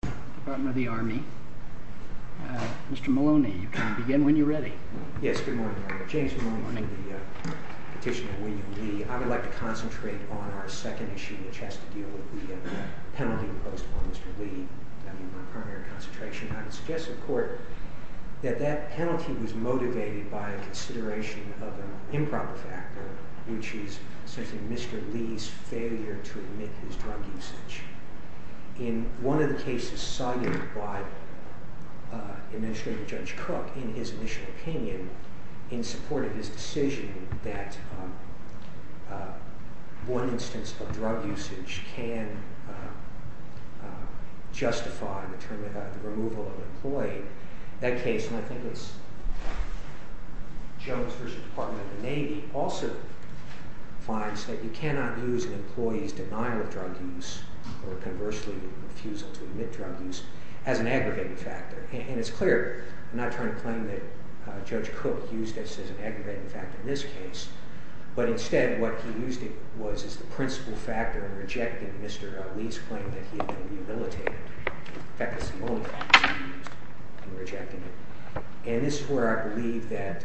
Department of the Army. Mr. Maloney, you can begin when you're ready. Yes, good morning. James Maloney with the petition of William Lee. I would like to concentrate on our second issue, which has to deal with the penalty imposed upon Mr. Lee. I mean, my primary concentration. I would suggest to the court that that penalty was motivated by a consideration of an improper factor, which is essentially Mr. Lee's failure to admit his drug usage. In one of the cases cited by Administrator Judge Cook in his initial opinion, in support of his decision that one instance of drug usage can justify the removal of an employee, that case, and I think it's Jones v. Department of the Navy, Mr. Lee also finds that you cannot use an employee's denial of drug use, or conversely refusal to admit drug use, as an aggravating factor. And it's clear, I'm not trying to claim that Judge Cook used this as an aggravating factor in this case, but instead what he used it was as the principal factor in rejecting Mr. Lee's claim that he had been rehabilitated. In fact, that's the only factor he used in rejecting it. And this is where I believe that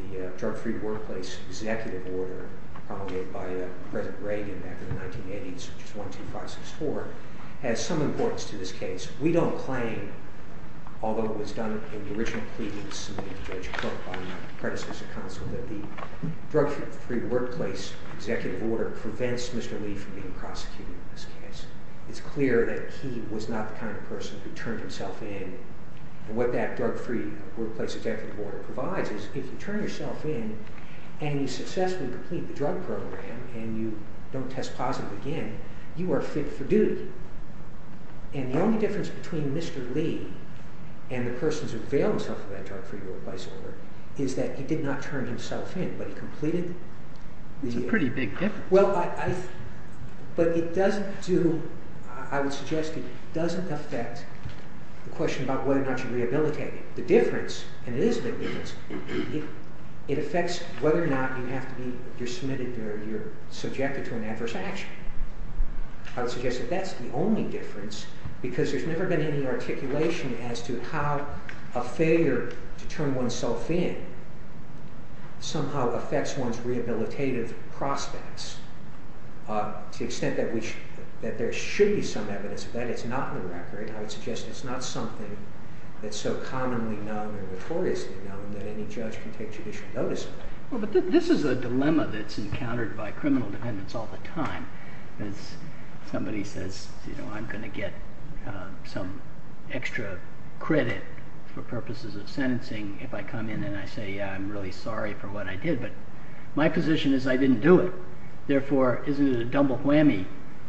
the Drug-Free Workplace Executive Order, promulgated by President Reagan back in the 1980s, which is 12564, has some importance to this case. We don't claim, although it was done in the original plea that was submitted to Judge Cook by my predecessor counsel, that the Drug-Free Workplace Executive Order prevents Mr. Lee from being prosecuted in this case. It's clear that he was not the kind of person who turned himself in. And what that Drug-Free Workplace Executive Order provides is if you turn yourself in, and you successfully complete the drug program, and you don't test positive again, you are fit for duty. And the only difference between Mr. Lee and the persons who avail themselves of that Drug-Free Workplace Order is that he did not turn himself in, but he completed the... It's a pretty big difference. But it doesn't do... I would suggest it doesn't affect the question about whether or not you rehabilitate. The difference, and it is a big difference, it affects whether or not you have to be... you're submitted or you're subjected to an adverse action. I would suggest that that's the only difference, because there's never been any articulation as to how a failure to turn oneself in somehow affects one's rehabilitative prospects to the extent that there should be some evidence of that. It's not in the record. I would suggest it's not something that's so commonly known or notoriously known that any judge can take judicial notice of. But this is a dilemma that's encountered by criminal defendants all the time. Somebody says, you know, I'm going to get some extra credit for purposes of sentencing if I come in and I say, yeah, I'm really sorry for what I did, but my position is I didn't do it. Therefore, isn't it a double whammy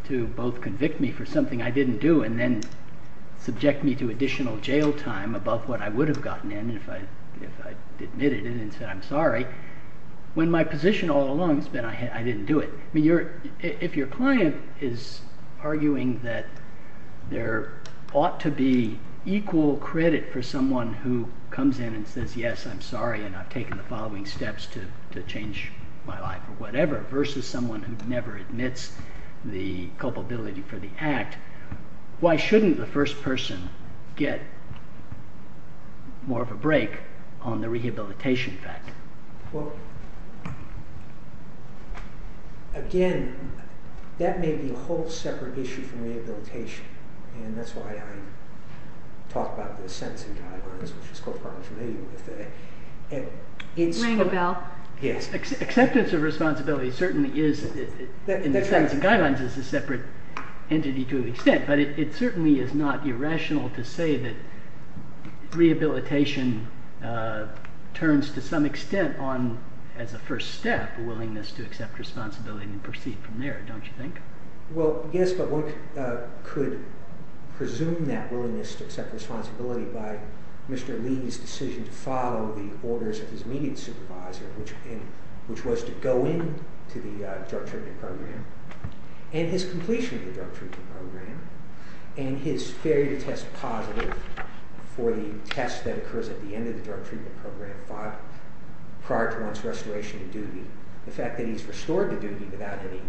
to both convict me for something I didn't do and then subject me to additional jail time above what I would have gotten in if I admitted it and said I'm sorry, when my position all along has been I didn't do it. If your client is arguing that there ought to be equal credit for someone who comes in and says, yes, I'm sorry, and I've taken the following steps to change my life or whatever versus someone who never admits the culpability for the act, why shouldn't the first person get more of a break on the rehabilitation fact? Well, again, that may be a whole separate issue from rehabilitation, and that's why I talk about the sentencing guidelines, which is something I'm familiar with. Ring a bell. Yes. Acceptance of responsibility certainly is, in the sentencing guidelines, is a separate entity to an extent, but it certainly is not irrational to say that rehabilitation turns to some extent as a first step a willingness to accept responsibility and proceed from there, don't you think? Well, yes, but one could presume that willingness to accept responsibility by Mr. Lee's decision to follow the orders of his immediate supervisor, which was to go into the drug-tripping program, and his completion of the drug-tripping program, and his failure to test positive for the test that occurs at the end of the drug-tripping program prior to one's restoration to duty, the fact that he's restored to duty without any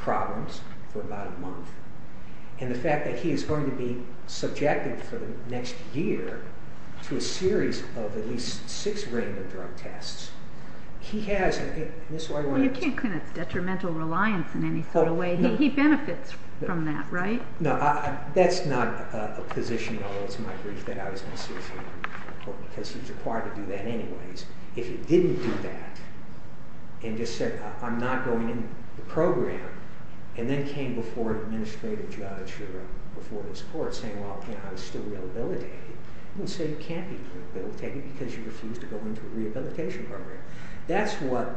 problems for about a month, and the fact that he is going to be subjected for the next year to a series of at least six random drug tests, he has, and this is why I wanted to... Well, you can't claim it's detrimental reliance in any sort of way. He benefits from that, right? No, that's not a position at all. It's my belief that I was necessarily, because he was required to do that anyways. If he didn't do that, and just said, I'm not going in the program, and then came before an administrative judge or before his court saying, well, I was still rehabilitated, he wouldn't say you can't be rehabilitated because you refused to go into a rehabilitation program. That's what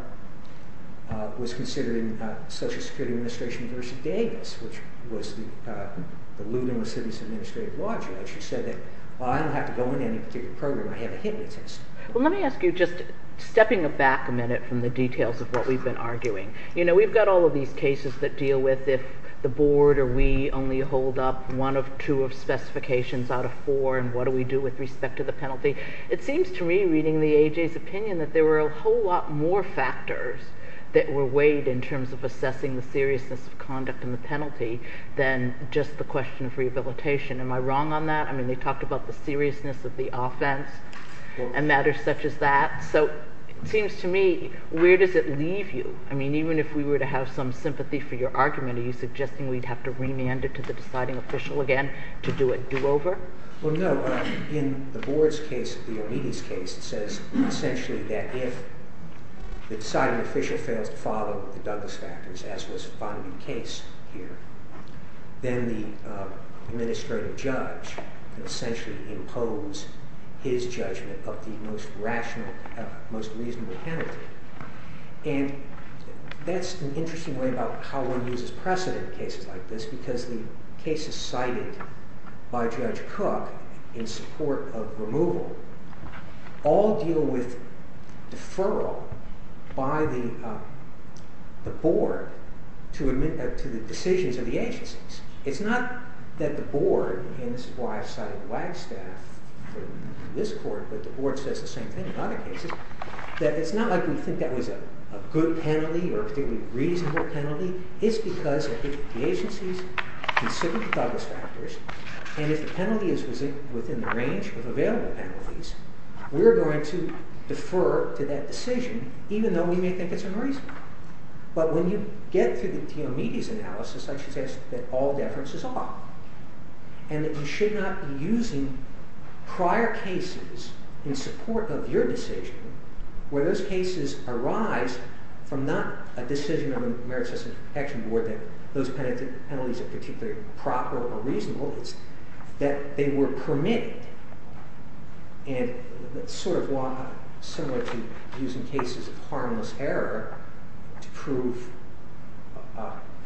was considered in the Social Security Administration v. Davis, which was the Lutheran City's administrative judge, who said that, well, I don't have to go into any particular program. I have a hit-and-run test. Well, let me ask you, just stepping back a minute from the details of what we've been arguing. You know, we've got all of these cases that deal with if the board or we only hold up one of two specifications out of four, and what do we do with respect to the penalty. It seems to me, reading the A.J.'s opinion, that there were a whole lot more factors that were weighed in terms of assessing the seriousness of conduct and the penalty than just the question of rehabilitation. Am I wrong on that? I mean, they talked about the seriousness of the offense and matters such as that. So it seems to me, where does it leave you? I mean, even if we were to have some sympathy for your argument, are you suggesting we'd have to remand it to the deciding official again to do a do-over? Well, no. In the board's case, the Omidy's case, it says essentially that if the deciding official fails to follow the Douglas factors, as was finally the case here, then the administrative judge essentially imposes his judgment of the most rational, most reasonable penalty. And that's an interesting way about how one uses precedent in cases like this because the cases cited by Judge Cook in support of removal all deal with deferral by the board to the decisions of the agencies. It's not that the board, and this is why I've cited Wagstaff in this court, but the board says the same thing in other cases, that it's not like we think that was a good penalty or a particularly reasonable penalty. It's because if the agencies consider the Douglas factors and if the penalty is within the range of available penalties, we're going to defer to that decision even though we may think it's unreasonable. But when you get to the Omidy's analysis, I suggest that all deference is off and that you should not be using prior cases in support of your decision where those cases arise from not a decision of the Merit System Protection Board that those penalties are particularly proper or reasonable. It's that they were permitted and sort of similar to using cases of harmless error to prove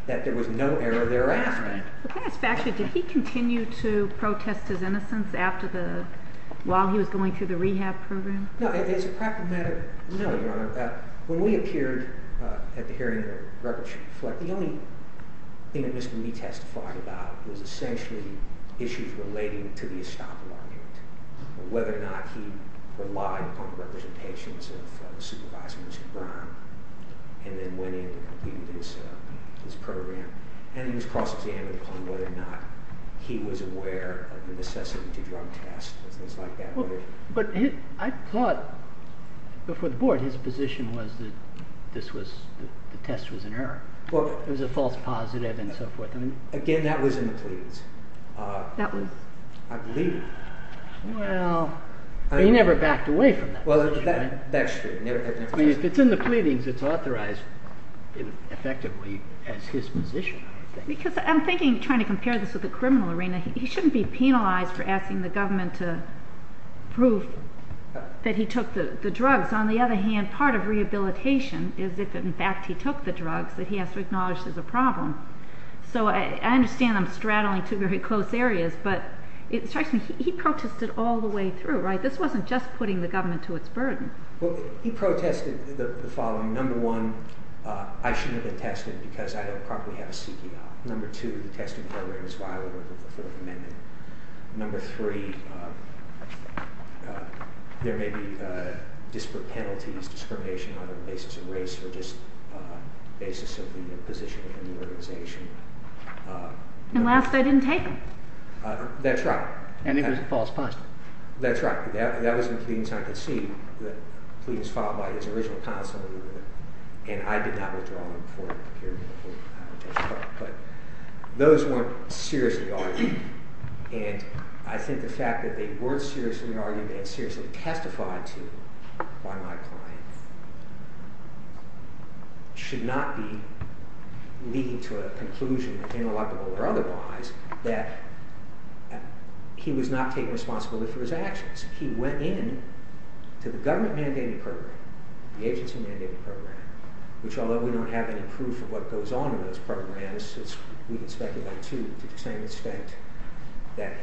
that there was no error thereafter. The Douglas factor, did he continue to protest his innocence while he was going through the rehab program? No, it's a practical matter. No, Your Honor. When we appeared at the hearing of the record sheet, the only thing that Mr. Mead testified about was essentially issues relating to the estopel argument and whether or not he relied upon representations of the supervisor, Mr. Brown, and then went in and completed his program. And he was cross-examined on whether or not he was aware of the necessity to drug test and things like that. But I thought before the board his position was that the test was an error. It was a false positive and so forth. Again, that was in the pleadings. That was. I believe. Well, he never backed away from that position. That's true. If it's in the pleadings, it's authorized effectively as his position, I think. Because I'm thinking, trying to compare this with the criminal arena, he shouldn't be penalized for asking the government to prove that he took the drugs. On the other hand, part of rehabilitation is if, in fact, he took the drugs, that he has to acknowledge there's a problem. So I understand I'm straddling two very close areas, but it strikes me he protested all the way through, right? This wasn't just putting the government to its burden. Well, he protested the following. Number one, I shouldn't have been tested because I don't properly have a C.P.I. Number two, the testing program is violated with the Fourth Amendment. Number three, there may be disparate penalties, discrimination on the basis of race or just the basis of the position within the organization. And last, I didn't take them. That's right. And it was a false positive. That's right. That was in the pleadings. I could see that the pleadings followed by his original counsel, and I did not withdraw them for a period of time. But those weren't seriously argued, and I think the fact that they weren't seriously argued and seriously testified to by my client should not be leading to a conclusion, ineligible or otherwise, that he was not taking responsibility for his actions. He went in to the government-mandated program, the agency-mandated program, which although we don't have any proof of what goes on in those programs, we can speculate, too, to the same extent that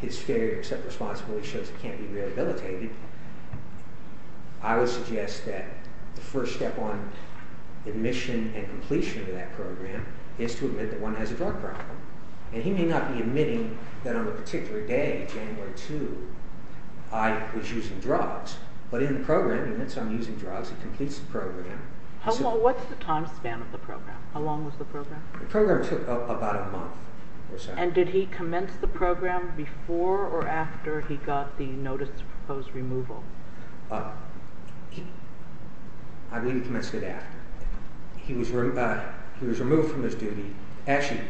his failure to accept responsibility shows it can't be rehabilitated, I would suggest that the first step on admission and completion of that program is to admit that one has a drug problem. And he may not be admitting that on a particular day, January 2, I was using drugs, but in the program he admits I'm using drugs. He completes the program. What's the time span of the program? How long was the program? The program took about a month or so. And did he commence the program before or after he got the notice of proposed removal? I believe he commenced it after. He was removed from his duty. Actually,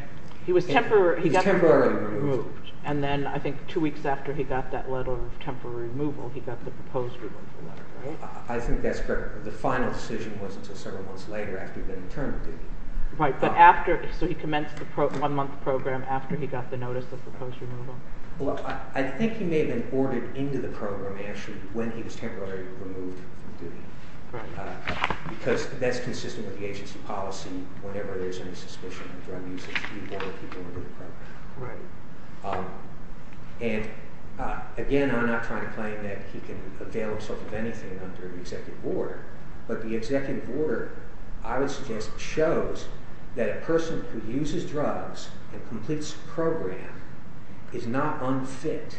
he was temporarily removed. And then I think two weeks after he got that letter of temporary removal, he got the proposed removal letter, right? I think that's correct. The final decision was until several months later after he'd been interned in duty. Right. So he commenced the one-month program after he got the notice of proposed removal? Well, I think he may have been ordered into the program, actually, when he was temporarily removed from duty because that's consistent with the agency policy. Whenever there's any suspicion of drug usage, we order people into the program. Right. And, again, I'm not trying to claim that he can avail himself of anything under the executive order, but the executive order, I would suggest, is not unfit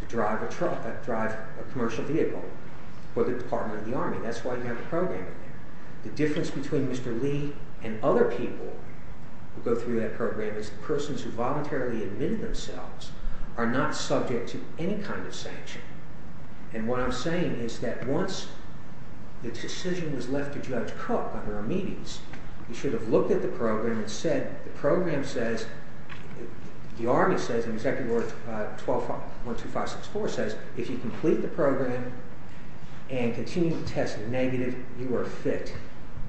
to drive a commercial vehicle for the Department of the Army. That's why you have a program in there. The difference between Mr. Lee and other people who go through that program is the persons who voluntarily admit themselves are not subject to any kind of sanction. And what I'm saying is that once the decision was left to Judge Cook under amites, he should have looked at the program and said, the program says, the Army says in Executive Order 12564 says, if you complete the program and continue to test negative, you are fit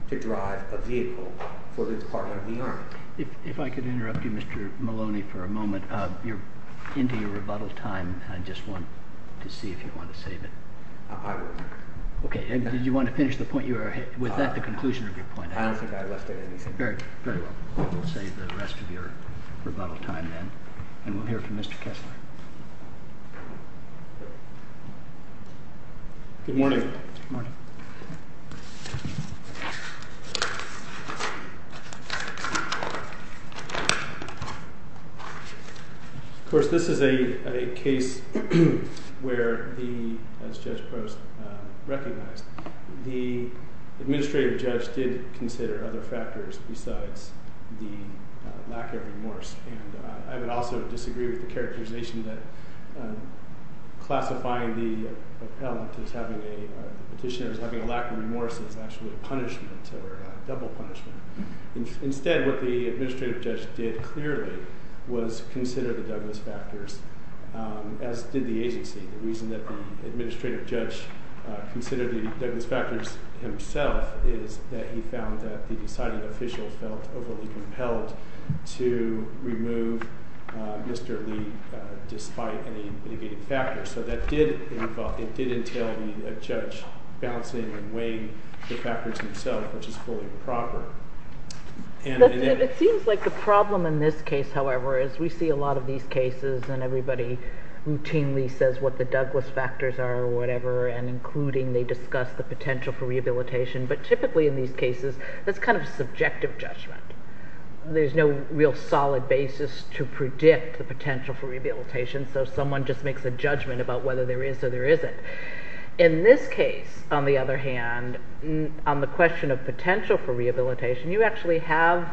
to drive a vehicle for the Department of the Army. If I could interrupt you, Mr. Maloney, for a moment. You're into your rebuttal time. I just want to see if you want to save it. I will. Okay. Did you want to finish the point you were making? Was that the conclusion of your point? I don't think I left out anything. Very well. We'll save the rest of your rebuttal time then. And we'll hear from Mr. Kessler. Good morning. Good morning. Of course, this is a case where, as Judge Post recognized, the administrative judge did consider other factors besides the lack of remorse. And I would also disagree with the characterization that classifying the appellant as having a petitioner as having a lack of remorse is actually a punishment or a double punishment. Instead, what the administrative judge did clearly was consider the Douglas factors, as did the agency. The reason that the administrative judge considered the Douglas factors himself is that he found that the deciding official felt overly compelled to remove Mr. Lee despite any mitigating factors. So that did involve, it did entail a judge balancing and weighing the factors himself, which is fully improper. It seems like the problem in this case, however, is we see a lot of these cases and everybody routinely says what the Douglas factors are or whatever, and including they discuss the potential for rehabilitation. But typically in these cases, that's kind of subjective judgment. There's no real solid basis to predict the potential for rehabilitation, so someone just makes a judgment about whether there is or there isn't. In this case, on the other hand, on the question of potential for rehabilitation, you actually have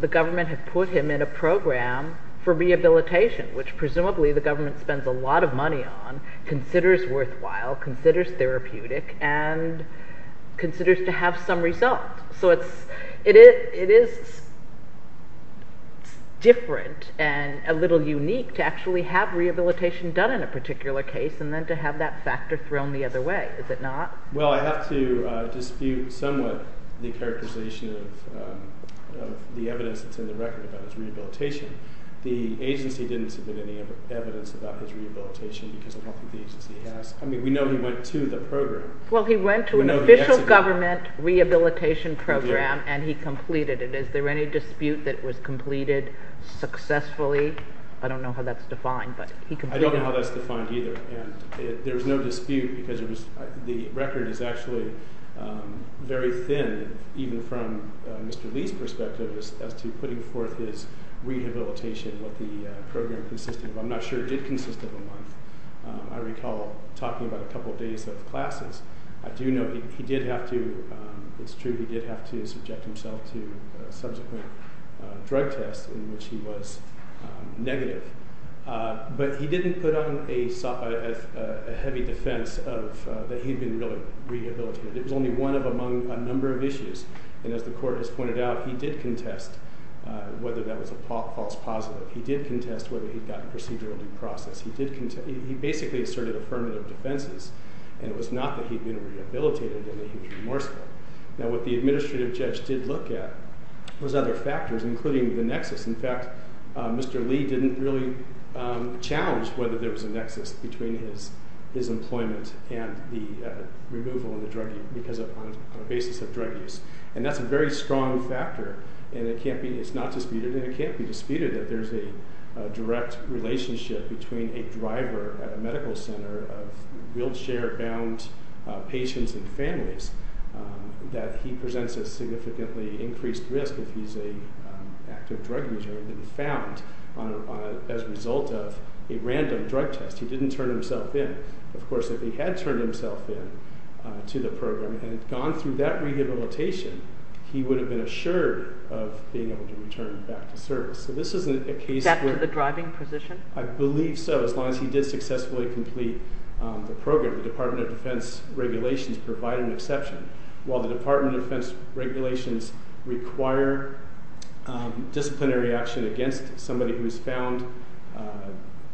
the government have put him in a program for rehabilitation, which presumably the government spends a lot of money on, considers worthwhile, considers therapeutic, and considers to have some result. So it is different and a little unique to actually have rehabilitation done in a particular case and then to have that factor thrown the other way, is it not? Well, I have to dispute somewhat the characterization of the evidence that's in the record about his rehabilitation. The agency didn't submit any evidence about his rehabilitation because I don't think the agency has. I mean, we know he went to the program. Well, he went to an official government rehabilitation program and he completed it. Is there any dispute that it was completed successfully? I don't know how that's defined, but he completed it. I don't know how that's defined either. There's no dispute because the record is actually very thin, even from Mr. Lee's perspective as to putting forth his rehabilitation, what the program consisted of. I'm not sure it did consist of a month. I recall talking about a couple of days of classes. I do know he did have to, it's true, he did have to subject himself to subsequent drug tests in which he was negative. But he didn't put on a heavy defense that he'd been really rehabilitated. It was only one of a number of issues, and as the court has pointed out, he did contest whether that was a false positive. He did contest whether he'd gotten procedural due process. He basically asserted affirmative defenses, and it was not that he'd been rehabilitated and that he was remorseful. Now, what the administrative judge did look at was other factors, including the nexus. In fact, Mr. Lee didn't really challenge whether there was a nexus between his employment and the removal on the basis of drug use. And that's a very strong factor, and it's not disputed, and it can't be disputed that there's a direct relationship between a driver at a medical center of wheelchair-bound patients and families that he presents a significantly increased risk if he's an active drug user and he's found as a result of a random drug test. He didn't turn himself in. Of course, if he had turned himself in to the program and had gone through that rehabilitation, he would have been assured of being able to return back to service. So this isn't a case where... Except for the driving position? I believe so, as long as he did successfully complete the program. The Department of Defense regulations provide an exception. While the Department of Defense regulations require disciplinary action against somebody who is found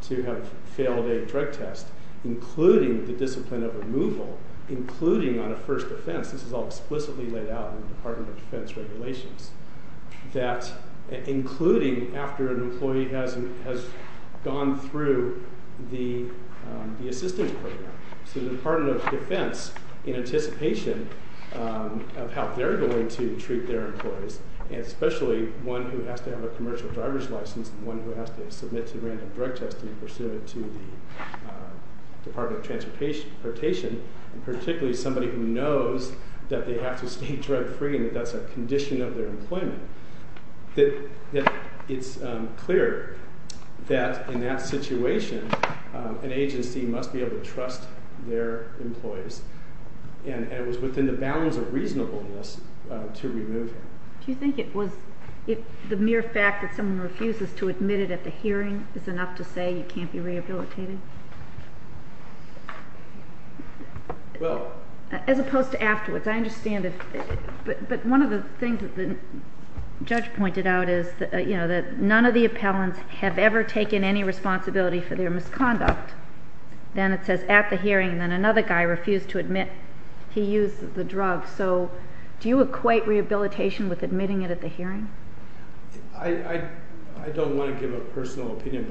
to have failed a drug test, including the discipline of removal, including on a first offense, this is all explicitly laid out in the Department of Defense regulations, including after an employee has gone through the assistance program. So the Department of Defense, in anticipation of how they're going to treat their employees, and especially one who has to have a commercial driver's license and one who has to submit to random drug testing pursuant to the Department of Transportation, and particularly somebody who knows that they have to stay drug-free and that that's a condition of their employment, that it's clear that, in that situation, an agency must be able to trust their employees. And it was within the bounds of reasonableness to remove him. Do you think it was the mere fact that someone refuses to admit it at the hearing is enough to say you can't be rehabilitated? Well... As opposed to afterwards, I understand if... But one of the things that the judge pointed out is that none of the appellants have ever taken any responsibility for their misconduct. Then it says at the hearing, then another guy refused to admit he used the drug. So do you equate rehabilitation with admitting it at the hearing? I don't want to give a personal opinion,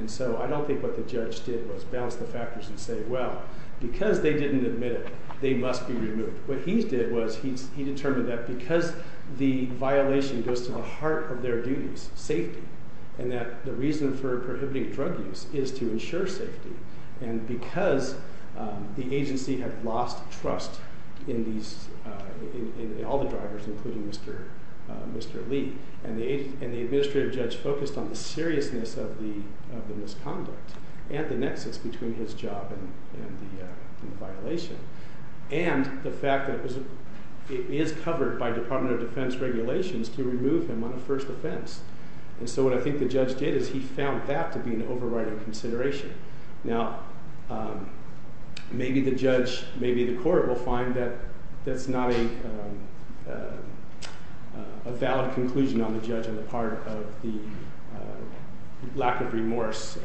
and so I don't think what the judge did was balance the factors and say, well, because they didn't admit it, they must be removed. What he did was he determined that because the violation goes to the heart of their duties, safety, and that the reason for prohibiting drug use is to ensure safety, and because the agency had lost trust in all the drivers, including Mr. Lee, and the administrative judge focused on the seriousness of the misconduct and the nexus between his job and the violation, and the fact that it is covered by Department of Defense regulations to remove him on a first offense. And so what I think the judge did is he found that to be an overriding consideration. Now, maybe the judge, maybe the court will find that that's not a valid conclusion on the judge on the part of the lack of remorse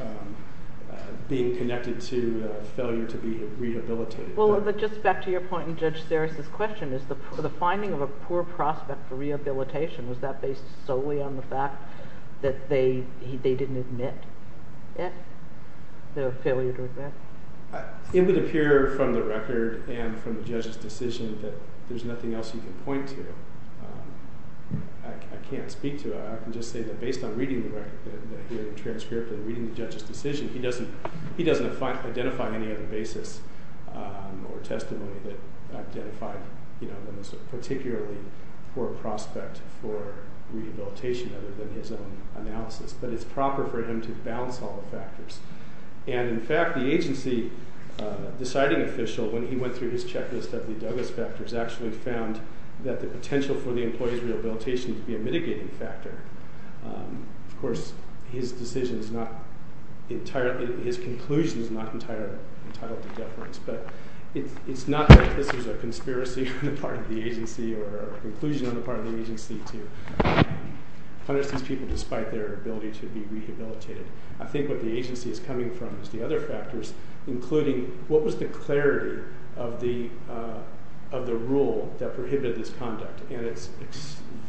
being connected to failure to be rehabilitated. Well, but just back to your point in Judge Serris' question, the finding of a poor prospect for rehabilitation, was that based solely on the fact that they didn't admit it, their failure to admit it? It would appear from the record and from the judge's decision that there's nothing else you can point to. I can't speak to it. I can just say that based on reading the transcript and reading the judge's decision, he doesn't identify any other basis or testimony that identified, you know, a poor prospect for rehabilitation other than his own analysis. But it's proper for him to balance all the factors. And, in fact, the agency deciding official, when he went through his checklist of the Douglas factors, actually found that the potential for the employee's rehabilitation to be a mitigating factor. Of course, his decision is not entirely – his conclusion is not entirely deference. But it's not that this is a conspiracy on the part of the agency or a conclusion on the part of the agency to punish these people despite their ability to be rehabilitated. I think what the agency is coming from is the other factors, including what was the clarity of the rule that prohibited this conduct. And it's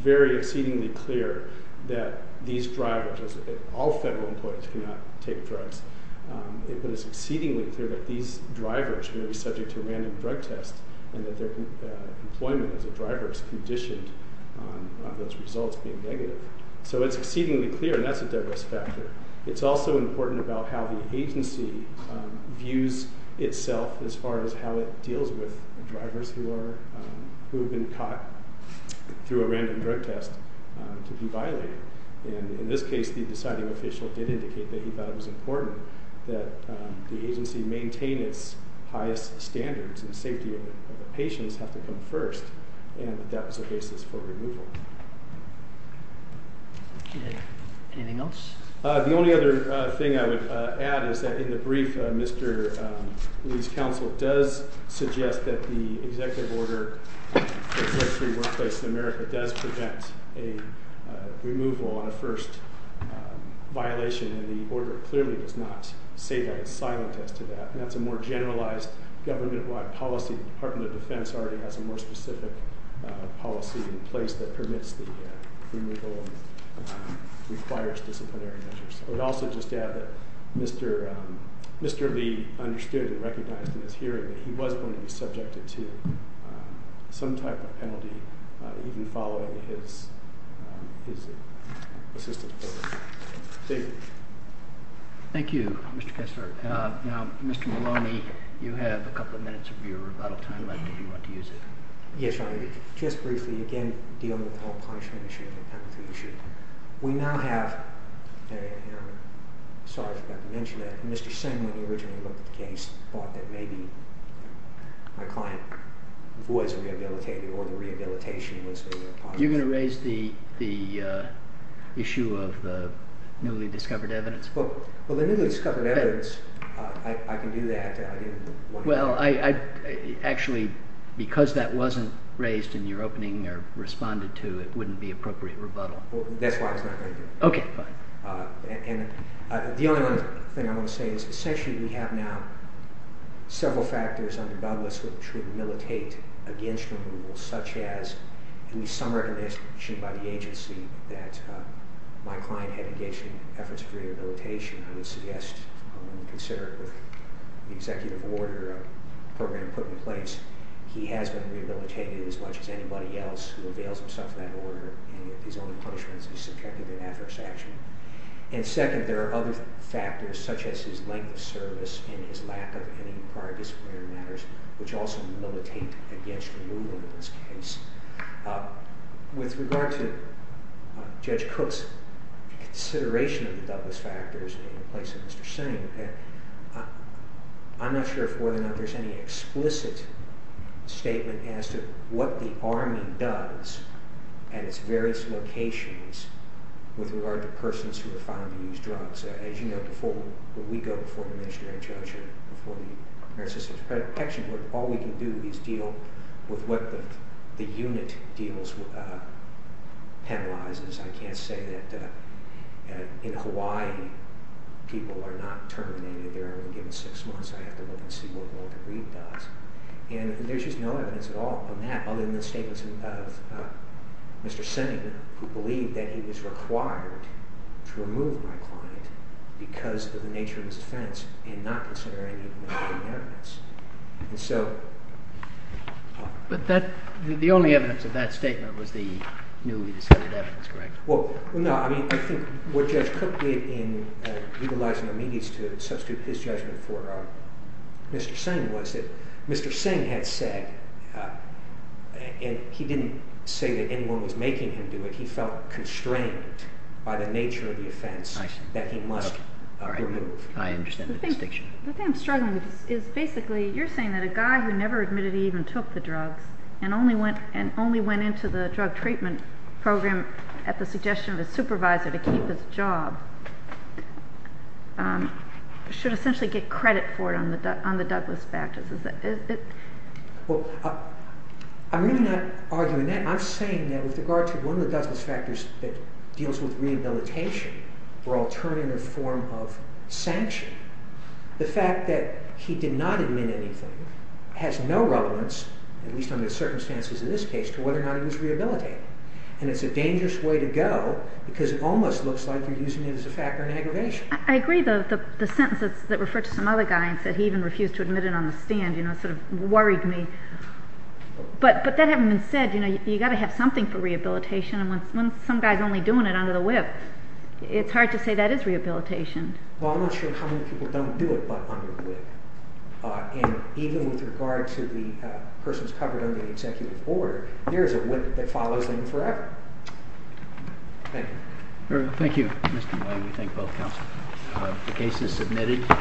very exceedingly clear that these drivers – all federal employees cannot take drugs. But it's exceedingly clear that these drivers are going to be subject to a random drug test and that their employment as a driver is conditioned on those results being negative. So it's exceedingly clear, and that's a Douglas factor. It's also important about how the agency views itself as far as how it deals with drivers who have been caught through a random drug test to be violated. And in this case, the deciding official did indicate that he thought it was important that the agency maintain its highest standards and safety of the patients have to come first, and that that was the basis for removal. Anything else? The only other thing I would add is that in the brief, Mr. Lee's counsel does suggest that the executive order for a drug-free workplace in America does prevent a removal on a first violation, and the order clearly does not say that. It's silent as to that. And that's a more generalized government-wide policy. The Department of Defense already has a more specific policy in place that permits the removal and requires disciplinary measures. I would also just add that Mr. Lee understood and recognized in this hearing that he was going to be subjected to some type of penalty even following his assistance. David. Thank you, Mr. Kessler. Now, Mr. Maloney, you have a couple of minutes of your rebuttal time left if you want to use it. Yes, Your Honor. Just briefly, again, dealing with the whole punishment issue and the penalty issue, we now have, sorry for not mentioning it, Mr. Singh, when he originally looked at the case, he thought that maybe my client was rehabilitated or the rehabilitation was a part of it. You're going to raise the issue of the newly discovered evidence? Well, the newly discovered evidence, I can do that. Well, actually, because that wasn't raised in your opening or responded to, it wouldn't be appropriate rebuttal. That's why I was not going to do it. Okay, fine. The only other thing I want to say is essentially we have now several factors under Douglas which would militate against removal, such as at least some recognition by the agency that my client had engaged in efforts of rehabilitation. I would suggest when we consider it with the executive order program put in place, he has been rehabilitated as much as anybody else who avails himself of that order and his only punishment is subjective and adverse action. And second, there are other factors such as his length of service and his lack of any prior disciplinary matters which also militate against removal in this case. With regard to Judge Cook's consideration of the Douglas factors in the place of Mr. Singh, I'm not sure if more than that there's any explicit statement as to what the Army does at its various locations with regard to persons who are found to use drugs. As you know, before we go before the Minister and Judge and before the American Systems Protection Board, all we can do is deal with what the unit deals with, penalizes. I can't say that in Hawaii people are not terminated. They're only given six months. I have to look and see what Walter Reed does. And there's just no evidence at all on that other than the statements of Mr. Singh who believed that he was required to remove my client because of the nature of his offense and not considering any other evidence. But the only evidence of that statement was the newly decided evidence, correct? Well, no. I think what Judge Cook did in legalizing amicus to substitute his judgment for Mr. Singh was that Mr. Singh had said, and he didn't say that anyone was making him do it, he felt constrained by the nature of the offense that he must remove. I understand the distinction. The thing I'm struggling with is basically you're saying that a guy who never admitted he even took the drugs and only went into the drug treatment program at the suggestion of his supervisor to keep his job should essentially get credit for it on the Douglas factors. I'm really not arguing that. I'm saying that with regard to one of the Douglas factors that deals with rehabilitation or alternative form of sanction, the fact that he did not admit anything has no relevance, at least under the circumstances of this case, to whether or not he was rehabilitated. And it's a dangerous way to go because it almost looks like you're using it as a factor in aggravation. I agree. The sentence that referred to some other guy and said he even refused to admit it on the stand, you know, sort of worried me. But that having been said, you know, you've got to have something for rehabilitation. And when some guy's only doing it under the whip, it's hard to say that is rehabilitation. Well, I'm not sure how many people don't do it but under a whip. And even with regard to the persons covered under the executive order, there is a whip that follows them forever. Thank you. Thank you, Mr. Moy. We thank both counsel. The case is submitted.